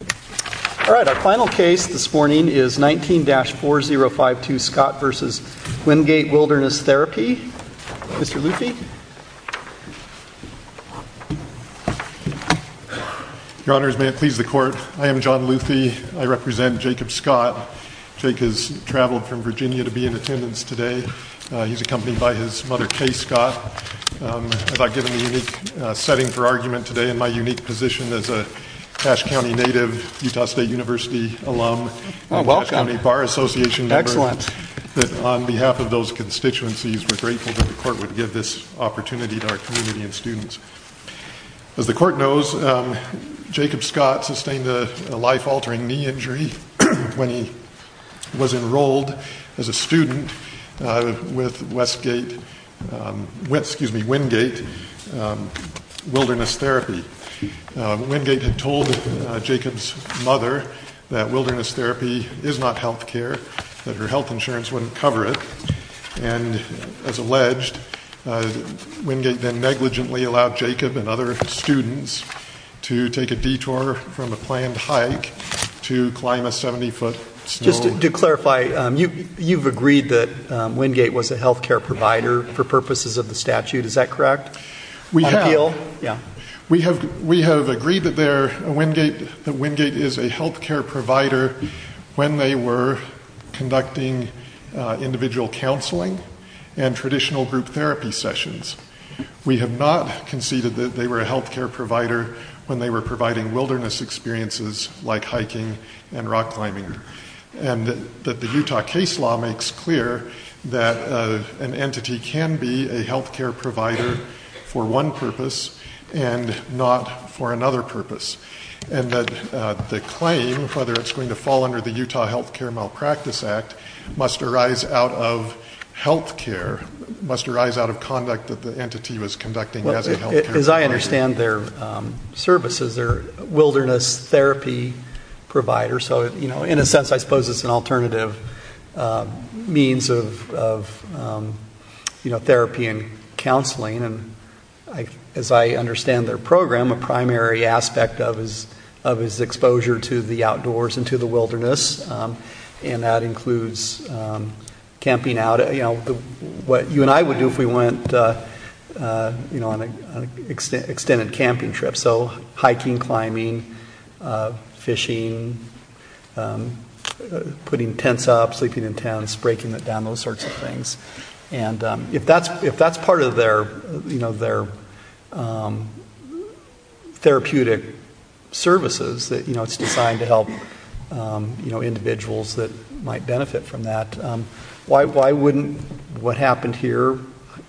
All right, our final case this morning is 19-4052 Scott v. Wingate Wilderness Therapy. Mr. Luthi? Your Honors, may it please the Court, I am John Luthi. I represent Jacob Scott. Jake has traveled from Virginia to be in attendance today. He's accompanied by his mother, Kay Scott. I thought, given the unique setting for argument today and my unique position as a Ash County native, Utah State University alum, and Ash County Bar Association member, that on behalf of those constituencies, we're grateful that the Court would give this opportunity to our community and students. As the Court knows, Jacob Scott sustained a life-altering knee injury when he was enrolled as a student with Wingate Wilderness Therapy. Wingate had told Jacob's mother that wilderness therapy is not health care, that her health insurance wouldn't cover it. And as alleged, Wingate then negligently allowed Jacob and other students to take a detour from a planned hike to climb a 70-foot snow. Just to clarify, you've agreed that Wingate was a health care provider for purposes of the statute. Is that correct? We have. We have agreed that Wingate is a health care provider when they were conducting individual counseling and traditional group therapy sessions. We have not conceded that they were a health care provider when they were providing wilderness experiences like hiking and rock climbing. And that the Utah case law makes clear that an entity can be a health care provider for one purpose and not for another purpose. And that the claim, whether it's going to fall under the Utah Health Care Malpractice Act, must arise out of health care, must arise out of conduct that the entity was conducting as a health care provider. As I understand their services, they're wilderness therapy providers. So in a sense, I suppose it's an alternative means of therapy and counseling. And as I understand their program, a primary aspect of is exposure to the outdoors and to the wilderness. And that includes camping out. What you and I would do if we went on an extended camping trip. So hiking, climbing, fishing, putting tents up, sleeping in tents, breaking it down, those sorts of things. And if that's part of their therapeutic services, that it's designed to help individuals that might benefit from that, why wouldn't what happened here,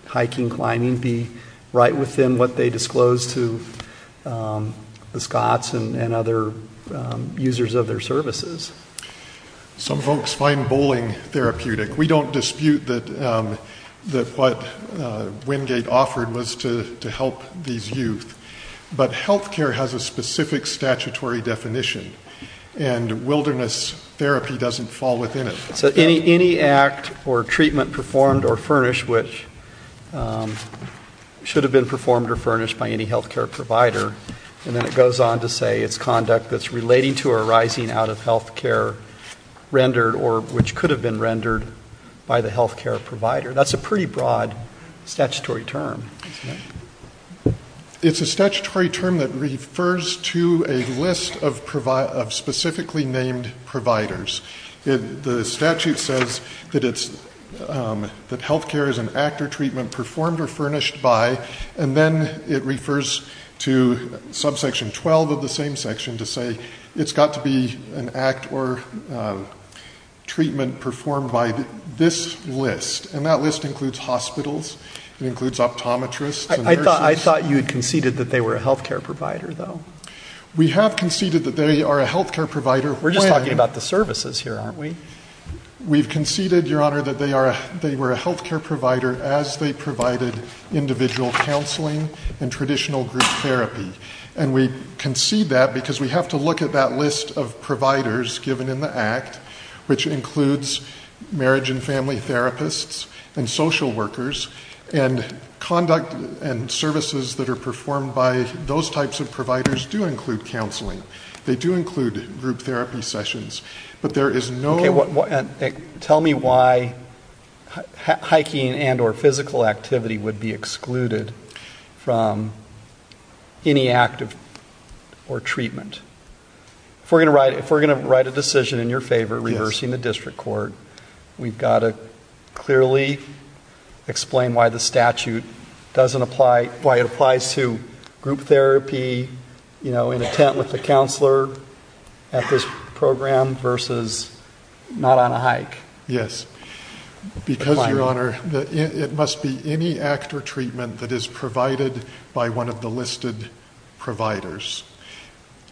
hiking, climbing, be right within what they disclosed to the Scots and other users of their services? Some folks find bowling therapeutic. We don't dispute that what Wingate offered was to help these youth. But health care has a specific statutory definition. And wilderness therapy doesn't fall within it. So any act or treatment performed or furnished which should have been performed or furnished by any health care provider, and then it goes on to say it's conduct that's rendered or which could have been rendered by the health care provider. That's a pretty broad statutory term. It's a statutory term that refers to a list of specifically named providers. The statute says that health care is an act or treatment performed or furnished by. And then it refers to subsection 12 of the same section to say it's got to be an act or treatment performed by this list. And that list includes hospitals. It includes optometrists and nurses. I thought you had conceded that they were a health care provider, though. We have conceded that they are a health care provider. We're just talking about the services here, aren't we? We've conceded, Your Honor, that they were a health care provider as they provided individual counseling and traditional group therapy. And we concede that because we have to look at that list of providers given in the act, which includes marriage and family therapists and social workers. And conduct and services that are performed by those types of providers do include counseling. They do include group therapy sessions. But there is no. Tell me why hiking and or physical activity would be excluded from any act or treatment. If we're going to write a decision in your favor reversing the district court, we've got to clearly explain why the statute doesn't apply, why it applies to group therapy in attempt with the counselor at this program versus not on a hike. Yes. Because, Your Honor, it must be any act or treatment that is provided by one of the listed providers.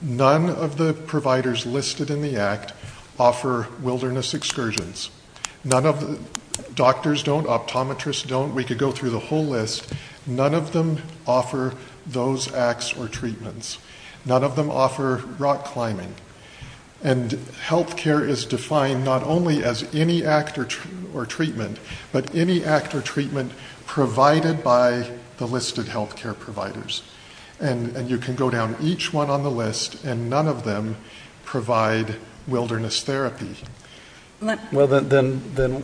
None of the providers listed in the act offer wilderness excursions. None of the doctors don't, optometrists don't. We could go through the whole list. None of them offer those acts or treatments. None of them offer rock climbing. And health care is defined not only as any act or treatment, but any act or treatment provided by the listed health care providers. And you can go down each one on the list, and none of them provide wilderness therapy. Well, then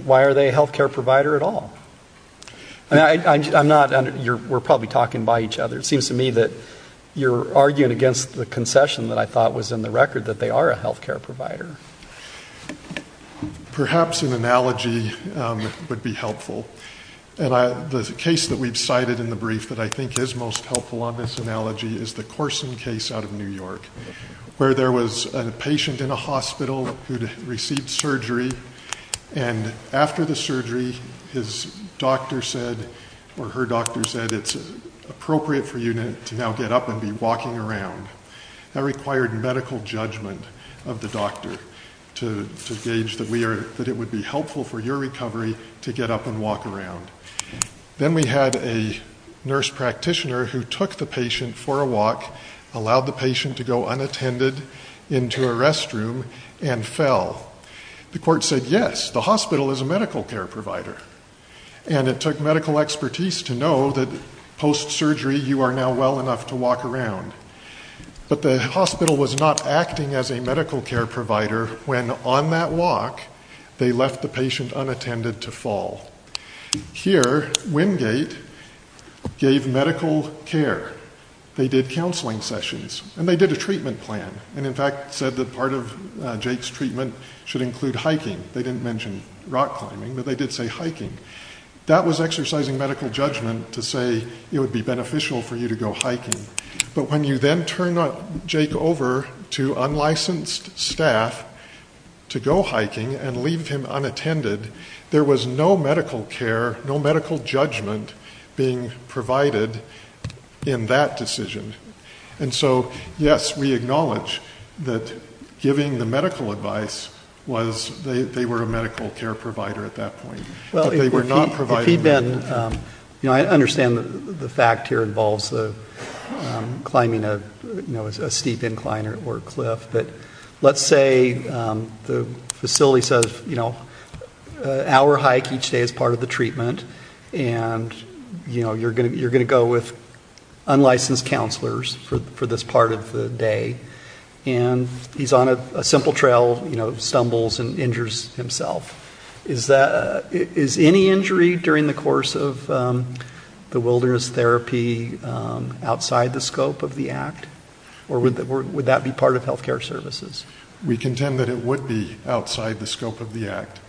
why are they a health care provider at all? I'm not, we're probably talking by each other. It seems to me that you're arguing against the concession that I thought was in the record that they are a health care provider. Perhaps an analogy would be helpful. And the case that we've cited in the brief that I think is most helpful on this analogy is the Corson case out of New York, where there was a patient in a hospital who received surgery. And after the surgery, his doctor said, or her doctor said, it's appropriate for you to now get up and be walking around. That required medical judgment of the doctor to gauge that it would be helpful for your recovery to get up and walk around. Then we had a nurse practitioner who took the patient for a walk, allowed the patient to go unattended into a restroom, and fell. The court said, yes, the hospital is a medical care provider. And it took medical expertise to know that post-surgery, you are now well enough to walk around. But the hospital was not acting as a medical care provider when, on that walk, they left the patient unattended to fall. Here, Wingate gave medical care. They did counseling sessions. And they did a treatment plan, and in fact, said that part of Jake's treatment should include hiking. They didn't mention rock climbing, but they did say hiking. That was exercising medical judgment to say it would be beneficial for you to go hiking. But when you then turn Jake over to unlicensed staff to go hiking and leave him unattended, there was no medical care, no medical judgment being provided in that decision. And so, yes, we acknowledge that giving the medical advice was they were a medical care provider at that point. But they were not providing that. You know, I understand that the fact here involves climbing a steep incline or a cliff. But let's say the facility says an hour hike each day is part of the treatment. And you're going to go with unlicensed counselors for this part of the day. And he's on a simple trail, stumbles, and injures himself. Is any injury during the course of the wilderness therapy outside the scope of the act? Or would that be part of health care services? We contend that it would be outside the scope of the act.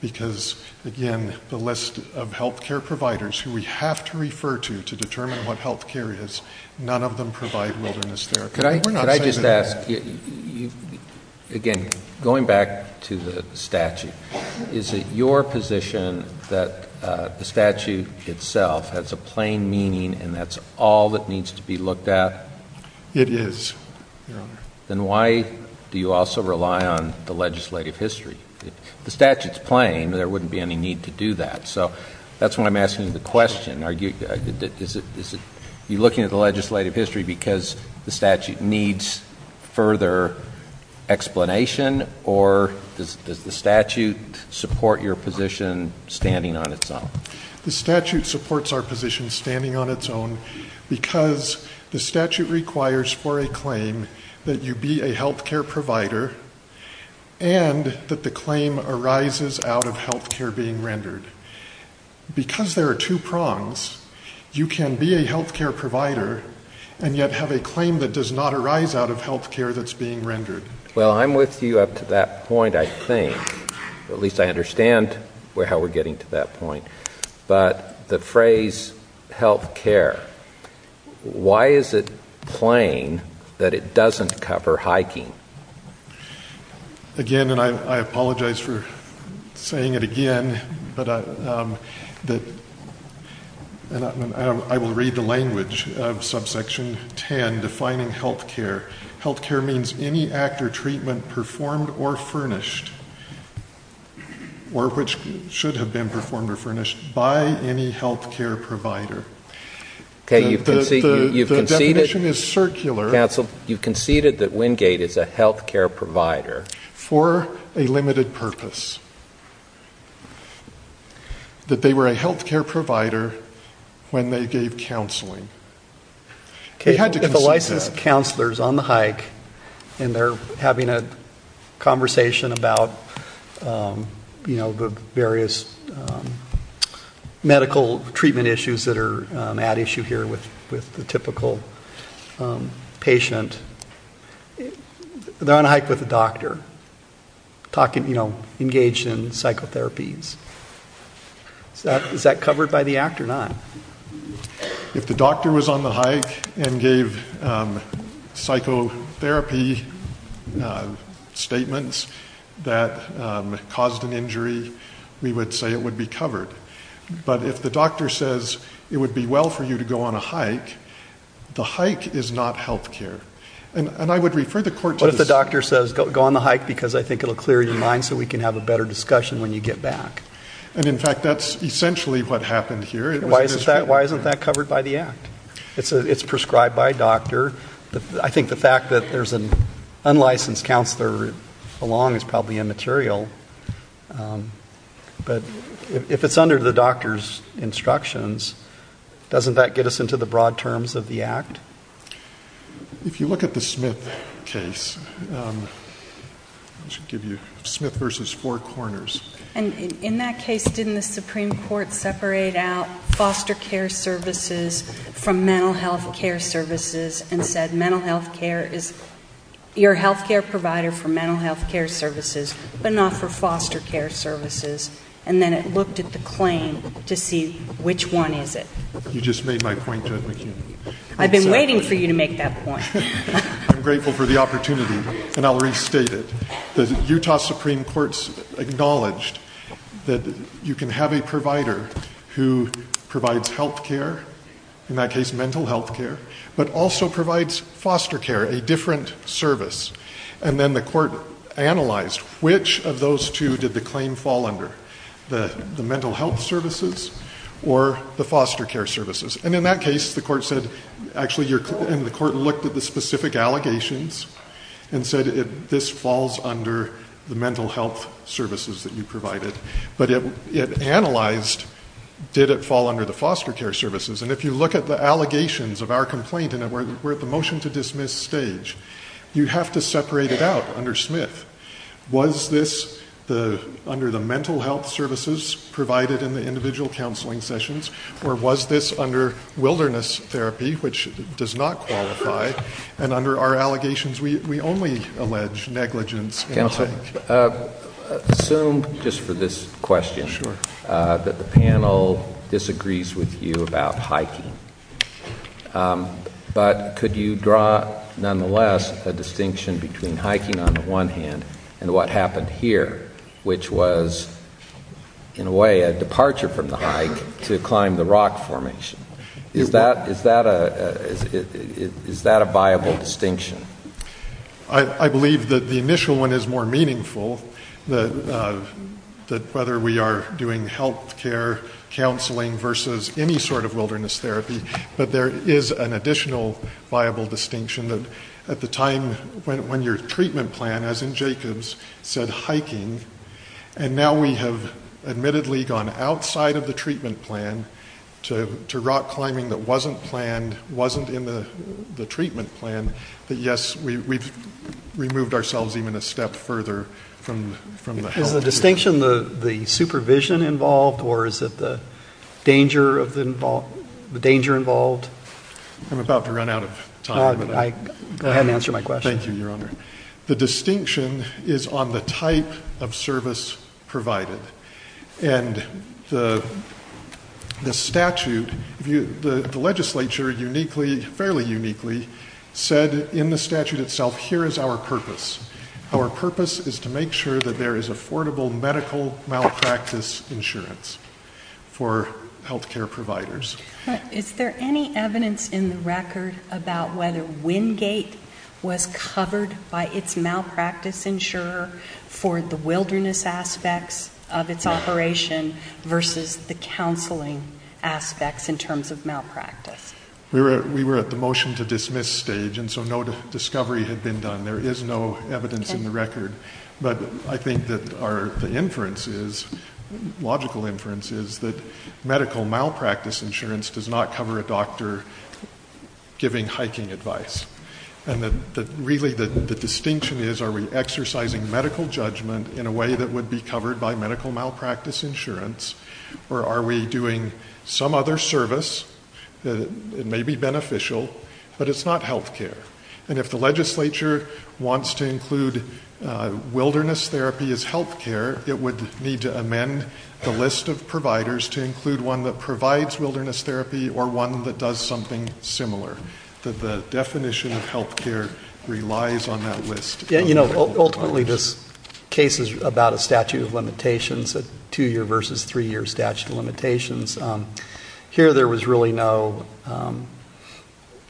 Because, again, the list of health care providers who we have to refer to to determine what health care is, none of them provide wilderness therapy. Could I just ask? You, again, going back to the statute, is it your position that the statute itself has a plain meaning and that's all that needs to be looked at? It is, Your Honor. Then why do you also rely on the legislative history? The statute's plain. There wouldn't be any need to do that. So that's why I'm asking the question. Is it you're looking at the legislative history because the statute needs further explanation? Or does the statute support your position standing on its own? The statute supports our position standing on its own because the statute requires for a claim that you be a health care provider and that the claim arises out of health care being rendered. Because there are two prongs, you can be a health care provider and yet have a claim that does not arise out of health care that's being rendered. Well, I'm with you up to that point, I think. At least I understand how we're getting to that point. But the phrase health care, why is it plain that it doesn't cover hiking? Again, and I apologize for saying it again, but I will read the language of subsection 10, defining health care. Health care means any act or treatment performed or furnished, or which should have been performed or furnished by any health care provider. OK, you've conceded that Wingate is a health care provider. For a limited purpose, that they were a health care provider when they gave counseling. OK, if a licensed counselor is on the hike and they're having a conversation about the various medical treatment issues that are at issue here with the typical patient, they're on a hike with a doctor, engaged in psychotherapies. Is that covered by the act or not? If the doctor was on the hike and gave psychotherapy statements that caused an injury, we would say it would be covered. But if the doctor says it would be well for you to go on a hike, the hike is not health care. And I would refer the court to this. What if the doctor says, go on the hike, because I think it will clear your mind so we can have a better discussion when you get back. And in fact, that's essentially what happened here. Why isn't that covered by the act? It's prescribed by a doctor. I think the fact that there's an unlicensed counselor along is probably immaterial. But if it's under the doctor's instructions, doesn't that get us into the broad terms of the act? If you look at the Smith case, I should give you Smith versus Four Corners. And in that case, didn't the Supreme Court separate out foster care services from mental health care services and said, mental health care is your health care provider for mental health care services, but not for foster care services? And then it looked at the claim to see, which one is it? You just made my point, Judge McHugh. I've been waiting for you to make that point. I'm grateful for the opportunity. And I'll restate it. The Utah Supreme Court's acknowledged that you can have a provider who provides health care, in that case, mental health care, but also provides foster care, a different service. And then the court analyzed, which of those two did the claim fall under, the mental health services or the foster care services? And in that case, the court said, actually, the court looked at the specific allegations and said, this falls under the mental health services that you provided. But it analyzed, did it fall under the foster care services? And if you look at the allegations of our complaint, and we're at the motion to dismiss stage, you have to separate it out under Smith. Was this under the mental health services provided in the individual counseling sessions? Or was this under wilderness therapy, which does not qualify? And under our allegations, we only allege negligence in a hike. Assume, just for this question, that the panel disagrees with you about hiking. But could you draw, nonetheless, a distinction between hiking, on the one hand, and what happened here, which was, in a way, a departure from the hike to climb the rock formation? Is that a viable distinction? I believe that the initial one is more meaningful, that whether we are doing health care counseling versus any sort of wilderness therapy. But there is an additional viable distinction that, at the time when your treatment plan, as in Jacobs, said hiking, and now we have admittedly gone outside of the treatment plan to rock climbing that wasn't planned, wasn't in the treatment plan, that yes, we've removed ourselves even a step further from the health care. Is the distinction the supervision involved? Or is it the danger involved? I'm about to run out of time. Go ahead and answer my question. Thank you, Your Honor. The distinction is on the type of service provided. And the statute, the legislature fairly uniquely said, in the statute itself, here is our purpose. Our purpose is to make sure that there is affordable medical malpractice insurance for health care providers. Is there any evidence in the record about whether Wingate was covered by its malpractice insurer for the wilderness aspects of its operation versus the counseling aspects in terms of malpractice? We were at the motion to dismiss stage, and so no discovery had been done. There is no evidence in the record. But I think that the inference is, logical inference, is that medical malpractice insurance does not cover a doctor giving hiking advice. And really, the distinction is, are we exercising medical judgment in a way that would be covered by medical malpractice insurance? Or are we doing some other service that may be beneficial, but it's not health care? And if the legislature wants to include wilderness therapy as health care, it would need to amend the list of providers to include one that provides wilderness therapy or one that does something similar, that the definition of health care relies on that list. Ultimately, this case is about a statute of limitations, a two-year versus three-year statute of limitations. Here, there was really no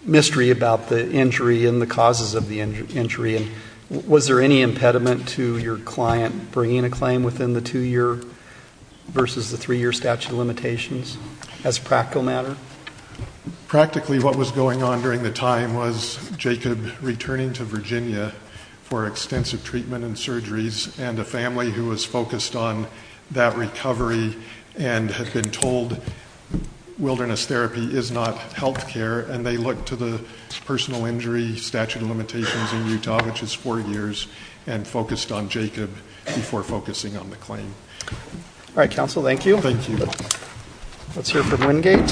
mystery about the injury and the causes of the injury. And was there any impediment to your client bringing a claim within the two-year versus the three-year statute of limitations as a practical matter? Practically, what was going on during the time was Jacob returning to Virginia for extensive treatment and surgeries and a family who was focused on that recovery and had been told wilderness therapy is not health care. And they looked to the personal injury statute of limitations in Utah, which is four years, and focused on Jacob before focusing on the claim. All right, counsel. Thank you. Let's hear from Wingate.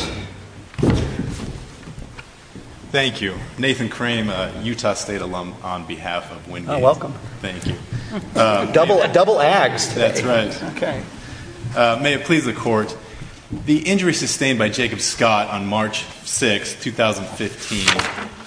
Thank you. Nathan Crame, a Utah State alum on behalf of Wingate. Oh, welcome. Thank you. Double ags today. That's right. May it please the court, the injury sustained by Jacob Scott on March 6, 2015,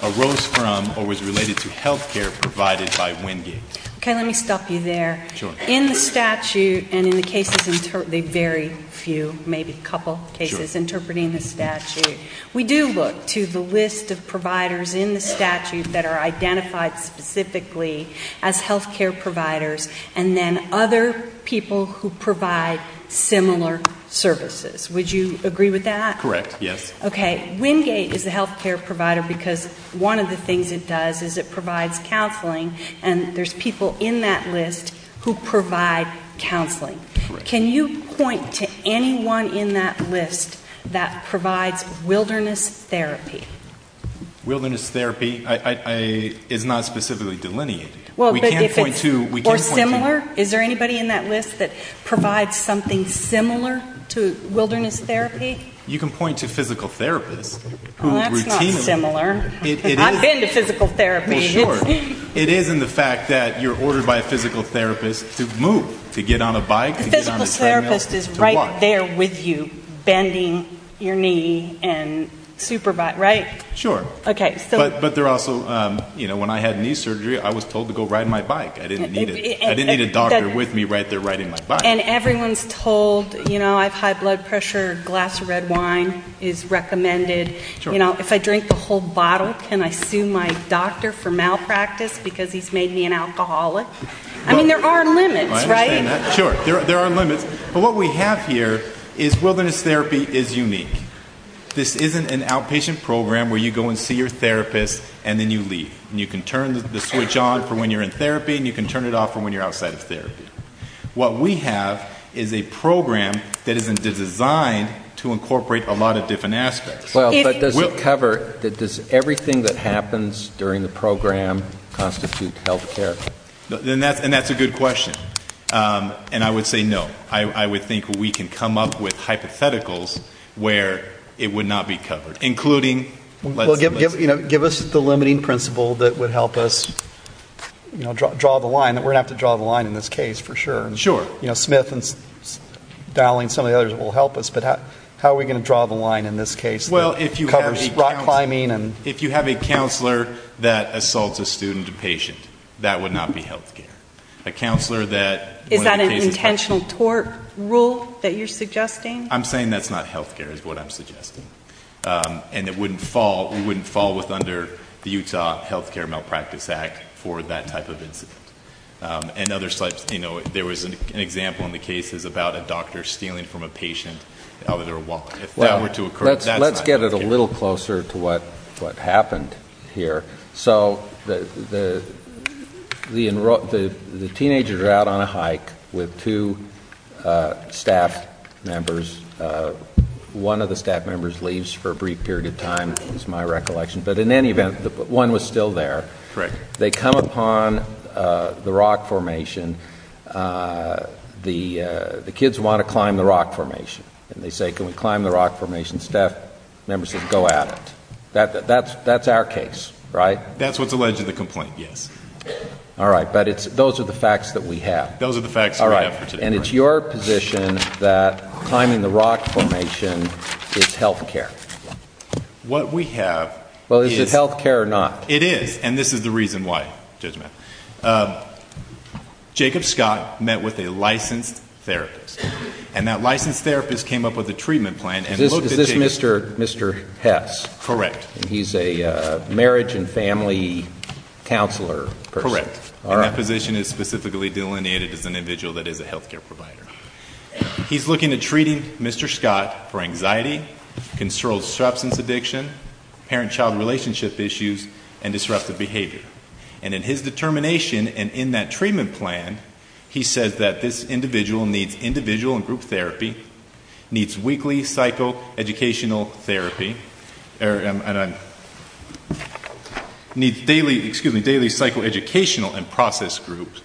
arose from or was related to health care provided by Wingate. OK, let me stop you there. In the statute and in the cases, they vary few, maybe a couple cases, interpreting the statute. We do look to the list of providers in the statute that are identified specifically as health care providers and then other people who provide similar services. Would you agree with that? Correct, yes. OK, Wingate is a health care provider because one of the things it does is it provides counseling. And there's people in that list who provide counseling. Can you point to anyone in that list that provides wilderness therapy? Wilderness therapy is not specifically delineated. Well, but if it's more similar, is there anybody in that list that provides something similar to wilderness therapy? You can point to physical therapists who routinely. Well, that's not similar. I've been to physical therapy. Well, sure. It is in the fact that you're ordered by a physical therapist to move, to get on a bike, to get on a treadmill, to walk. The physical therapist is right there with you, bending your knee and supervise, right? Sure. But they're also, you know, when I had knee surgery, I was told to go ride my bike. I didn't need a doctor with me right there riding my bike. And everyone's told, you know, I have high blood pressure, a glass of red wine is recommended. You know, if I drink the whole bottle, can I sue my doctor for malpractice because he's made me an alcoholic? I mean, there are limits, right? I understand that. Sure, there are limits. But what we have here is wilderness therapy is unique. This isn't an outpatient program where you go and see your therapist and then you leave. And you can turn the switch on for when you're in therapy and you can turn it off for when you're outside of therapy. What we have is a program that is designed to incorporate a lot of different aspects. Well, but does it cover, does everything that happens during the program constitute health care? And that's a good question. And I would say no. I would think we can come up with hypotheticals where it would not be covered, including let's say. Give us the limiting principle that would help us, you know, draw the line. We're going to have to draw the line in this case for sure. Sure. You know, Smith and Dowling, some of the others will help us. But how are we going to draw the line in this case? Well, if you have a counselor, if you have a counselor that assaults a student, a patient, that would not be health care. A counselor that. Is that an intentional tort rule that you're suggesting? I'm saying that's not health care is what I'm suggesting. And it wouldn't fall, it wouldn't fall with under the Utah Health Care Malpractice Act for that type of incident. And other sites, you know, there was an example in the cases about a doctor stealing from a patient out of their wallet. If that were to occur, that's not health care. Let's get it a little closer to what happened here. So the teenagers are out on a hike with two staff members. One of the staff members leaves for a brief period of time, is my recollection. But in any event, one was still there. They come upon the rock formation. The kids want to climb the rock formation. And they say, can we climb the rock formation? And staff member says, go at it. That's our case, right? That's what's alleged in the complaint, yes. All right, but those are the facts that we have. Those are the facts that we have for today. And it's your position that climbing the rock formation is health care. What we have is. Well, is it health care or not? It is. And this is the reason why, Judge Mapp. Jacob Scott met with a licensed therapist. And that licensed therapist came up with a treatment plan Is this Mr. Hess? Correct. He's a marriage and family counselor person. Correct. And that position is specifically delineated as an individual that is a health care provider. He's looking at treating Mr. Scott for anxiety, controlled substance addiction, parent-child relationship issues, and disruptive behavior. And in his determination and in that treatment plan, he says that this individual needs individual and group therapy, needs weekly psychoeducational therapy, needs daily psychoeducational and process groups,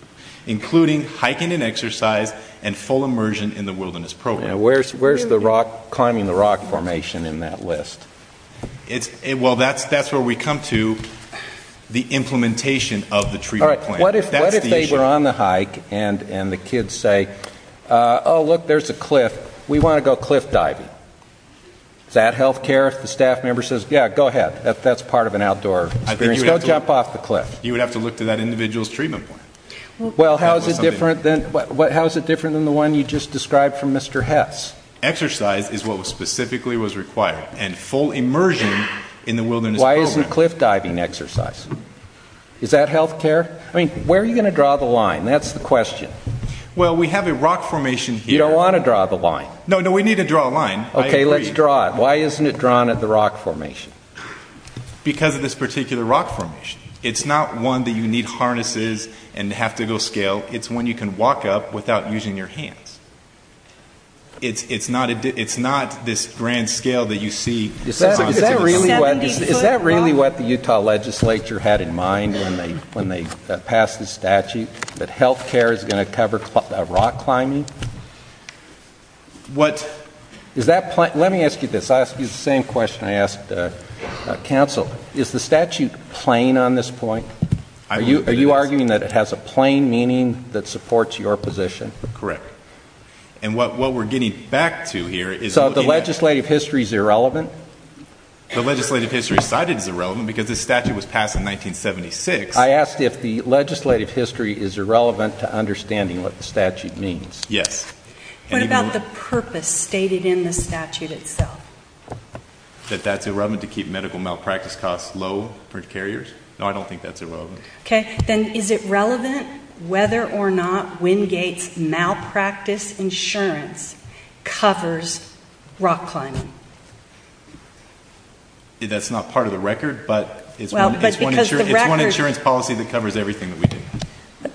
including hiking and exercise and full immersion in the wilderness program. Where's climbing the rock formation in that list? Well, that's where we come to the implementation of the treatment plan. All right, what if they were on the hike and the kids say, oh, look, there's a cliff. We want to go cliff diving. Is that health care if the staff member says, yeah, go ahead. That's part of an outdoor experience. Go jump off the cliff. You would have to look to that individual's treatment plan. Well, how is it different than the one you just described from Mr. Hess? Exercise is what specifically was required. And full immersion in the wilderness program. Why isn't cliff diving exercise? Is that health care? I mean, where are you going to draw the line? That's the question. Well, we have a rock formation here. You don't want to draw the line. No, no, we need to draw a line. OK, let's draw it. Why isn't it drawn at the rock formation? Because of this particular rock formation. It's not one that you need harnesses and have to go scale. It's one you can walk up without using your hands. It's not this grand scale that you see. Is that really what the Utah legislature had in mind when they passed this statute? That health care is going to cover rock climbing? Let me ask you this. I'll ask you the same question I asked counsel. Is the statute plain on this point? Are you arguing that it has a plain meaning that supports your position? Correct. And what we're getting back to here is looking at. So the legislative history is irrelevant? The legislative history cited as irrelevant because this statute was passed in 1976. I asked if the legislative history is irrelevant to understanding what the statute means. Yes. What about the purpose stated in the statute itself? That that's irrelevant to keep medical malpractice costs low for carriers? No, I don't think that's irrelevant. Then is it relevant whether or not Wingate's malpractice insurance covers rock climbing? That's not part of the record, but it's one insurance policy that covers everything that we do.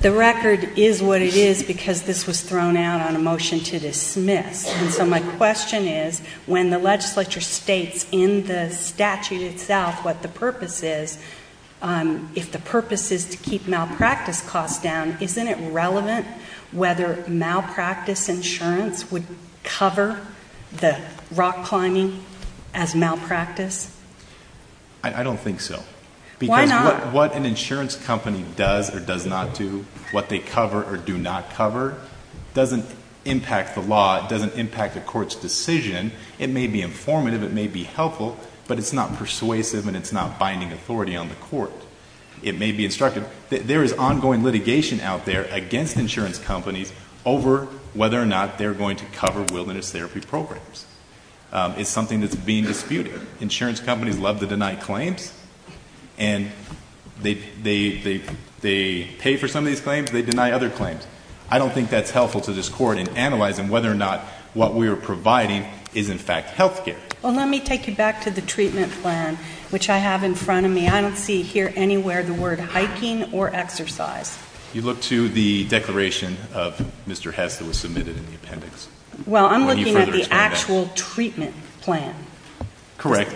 The record is what it is because this was thrown out on a motion to dismiss. And so my question is, when the legislature states in the statute itself what the purpose is, if the purpose is to keep malpractice costs down, cover the rock climbing, the rock climbing as malpractice? I don't think so. Why not? Because what an insurance company does or does not do, what they cover or do not cover, doesn't impact the law. It doesn't impact the court's decision. It may be informative. It may be helpful. But it's not persuasive, and it's not binding authority on the court. It may be instructive. There is ongoing litigation out there against insurance companies over whether or not they're going to cover wilderness therapy programs. It's something that's being disputed. Insurance companies love to deny claims. And they pay for some of these claims. They deny other claims. I don't think that's helpful to this court in analyzing whether or not what we are providing is, in fact, health care. Well, let me take you back to the treatment plan, which I have in front of me. I don't see here anywhere the word hiking or exercise. You look to the declaration of Mr. Hess that was submitted in the appendix. Well, I'm looking at the actual treatment plan. Correct.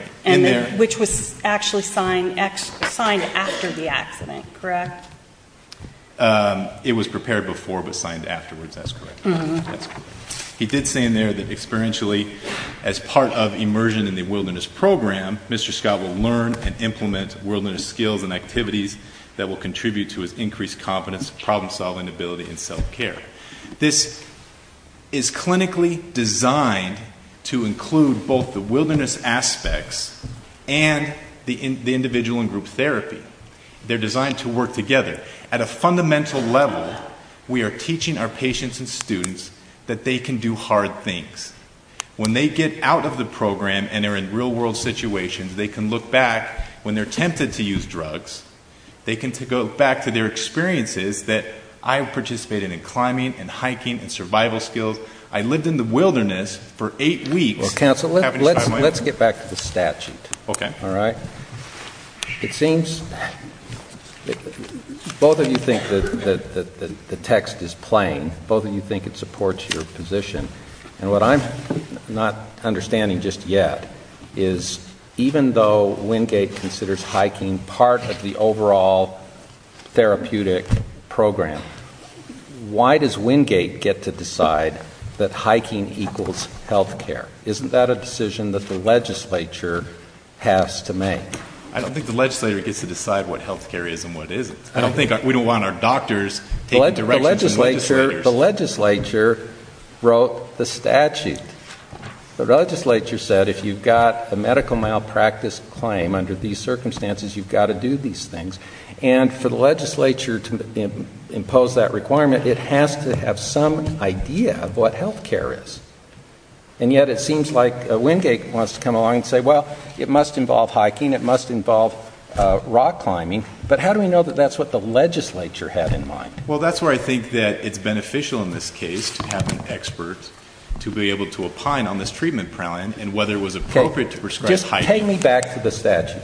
Which was actually signed after the accident, correct? It was prepared before, but signed afterwards. That's correct. He did say in there that experientially, as part of immersion in the wilderness program, Mr. Scott will learn and implement wilderness skills and activities that will contribute to his increased confidence, problem-solving ability, and self-care. This is clinically designed to include both the wilderness aspects and the individual and group therapy. They're designed to work together. At a fundamental level, we are teaching our patients and students that they can do hard things. When they get out of the program and are in real-world situations, they can look back when they're tempted to use drugs. They can go back to their experiences that I've participated in climbing, and hiking, and survival skills. I lived in the wilderness for eight weeks. Well, counsel, let's get back to the statute, all right? It seems both of you think that the text is playing. Both of you think it supports your position. And what I'm not understanding just yet is even though Wingate considers hiking part of the overall therapeutic program, why does Wingate get to decide that hiking equals health care? Isn't that a decision that the legislature has to make? I don't think the legislator gets to decide what health care is and what isn't. I don't think we don't want our doctors taking directions from legislators. The legislature wrote the statute. The legislature said if you've got a medical malpractice claim under these circumstances, you've got to do these things. And for the legislature to impose that requirement, it has to have some idea of what health care is. And yet it seems like Wingate wants to come along and say, well, it must involve hiking. It must involve rock climbing. But how do we know that that's what the legislature had in mind? Well, that's where I think that it's beneficial in this case to have an expert to be able to opine on this treatment plan and whether it was appropriate to prescribe hiking. Take me back to the statute.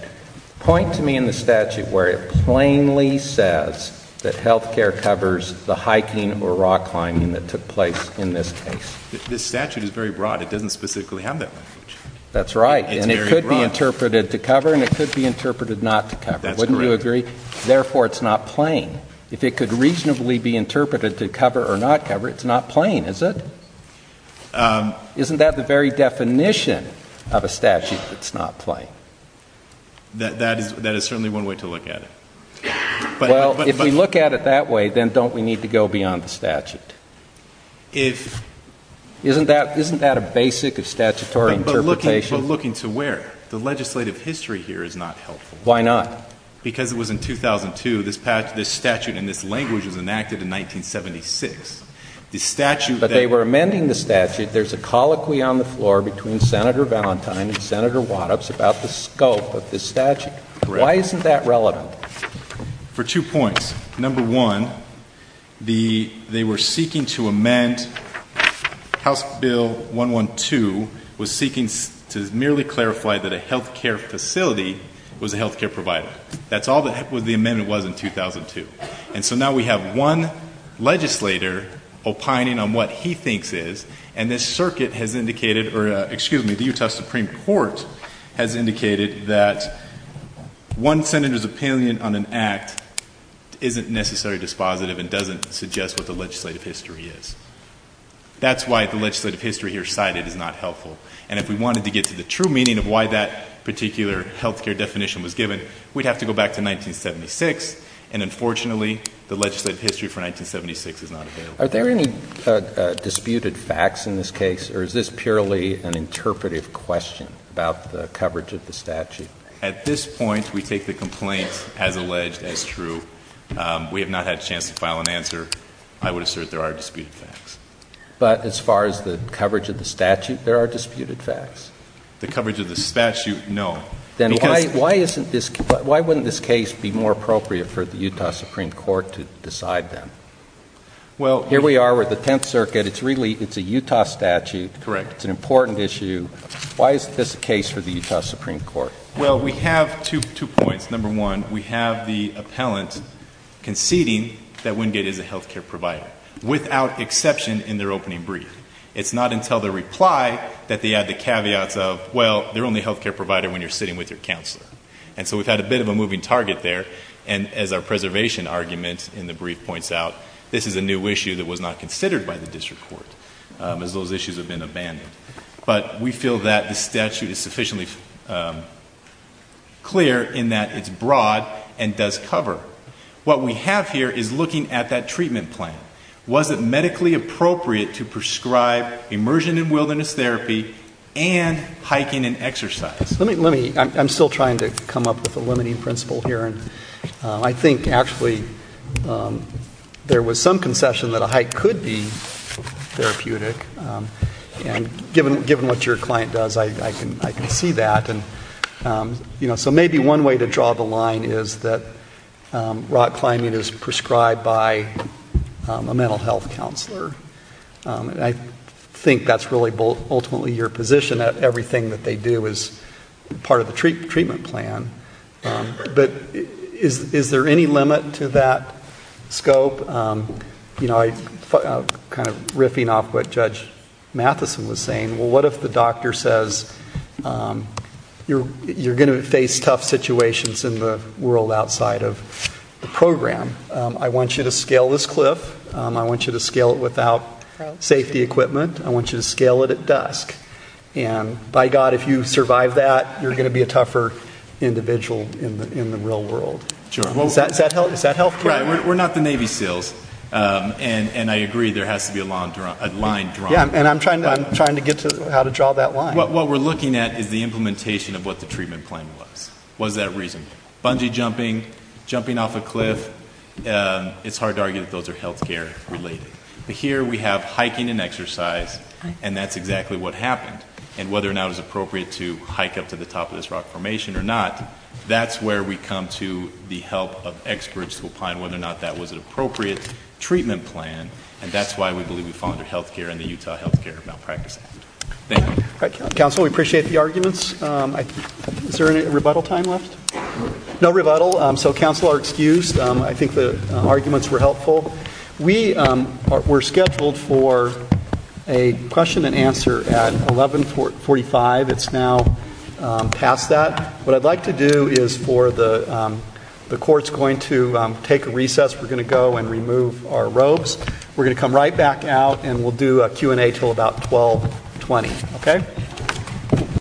Point to me in the statute where it plainly says that health care covers the hiking or rock climbing that took place in this case. This statute is very broad. It doesn't specifically have that language. That's right. And it could be interpreted to cover, and it could be interpreted not to cover. Wouldn't you agree? Therefore, it's not plain. If it could reasonably be interpreted to cover or not cover, it's not plain, is it? Isn't that the very definition of a statute that's not plain? That is certainly one way to look at it. Well, if we look at it that way, then don't we need to go beyond the statute? Isn't that a basic of statutory interpretation? But looking to where? The legislative history here is not helpful. Why not? Because it was in 2002, this statute and this language was enacted in 1976. But they were amending the statute. There's a colloquy on the floor between Senator Valentine and Senator Waddups about the scope of the statute. Why isn't that relevant? For two points. Number one, they were seeking to amend House Bill 112, was seeking to merely clarify that a health care facility was a health care provider. That's all that the amendment was in 2002. And so now we have one legislator opining on what he thinks is. And this circuit has indicated, or excuse me, the Utah Supreme Court has indicated that one senator's opinion on an act isn't necessarily dispositive and doesn't suggest what the legislative history is. That's why the legislative history here cited is not helpful. And if we wanted to get to the true meaning of why that particular health care definition was given, we'd have to go back to 1976. And unfortunately, the legislative history for 1976 is not available. Are there any disputed facts in this case, or is this purely an interpretive question about the coverage of the statute? At this point, we take the complaint as alleged as true. We have not had a chance to file an answer. I would assert there are disputed facts. But as far as the coverage of the statute, there are disputed facts? The coverage of the statute, no. Then why wouldn't this case be more appropriate for the Utah Supreme Court to decide then? Here we are with the Tenth Circuit. It's a Utah statute. It's an important issue. Why is this a case for the Utah Supreme Court? Well, we have two points. Number one, we have the appellant conceding that Wingate is a health care provider, without exception in their opening brief. It's not until the reply that they add the caveats of, well, they're only a health care provider when you're sitting with your counselor. And so we've had a bit of a moving target there. And as our preservation argument in the brief points out, this is a new issue that was not considered by the district court, as those issues have been abandoned. But we feel that the statute is sufficiently clear in that it's broad and does cover. What we have here is looking at that treatment plan. Was it medically appropriate to prescribe immersion in wilderness therapy and hiking and exercise? I'm still trying to come up with a limiting principle here. And I think, actually, there was some concession that a hike could be therapeutic. And given what your client does, I can see that. And so maybe one way to draw the line is that rock climbing is prescribed by a mental health counselor. And I think that's really ultimately your position, that everything that they do is part of the treatment plan. But is there any limit to that scope? I'm kind of riffing off what Judge Matheson was saying. Well, what if the doctor says, you're going to face tough situations in the world outside of the program? I want you to scale this cliff. I want you to scale it without safety equipment. I want you to scale it at dusk. And by God, if you survive that, you're going to be a tougher individual in the real world. Is that health care? We're not the Navy SEALs. And I agree, there has to be a line drawn. And I'm trying to get to how to draw that line. What we're looking at is the implementation of what the treatment plan was. What is that reason? Bungee jumping, jumping off a cliff, it's hard to argue that those are health care related. But here we have hiking and exercise, and that's exactly what happened. And whether or not it was appropriate to hike up to the top of this rock formation or not, that's where we come to the help of experts to find whether or not that was an appropriate treatment plan. And that's why we believe we fall under health care and the Utah Health Care Malpractice Act. Thank you. Counsel, we appreciate the arguments. Is there any rebuttal time left? No rebuttal, so counsel are excused. I think the arguments were helpful. We were scheduled for a question and answer at 11.45. It's now past that. What I'd like to do is for the courts going to take a recess. We're going to go and remove our robes. We're going to come right back out, and we'll do a Q&A till about 12.20. OK?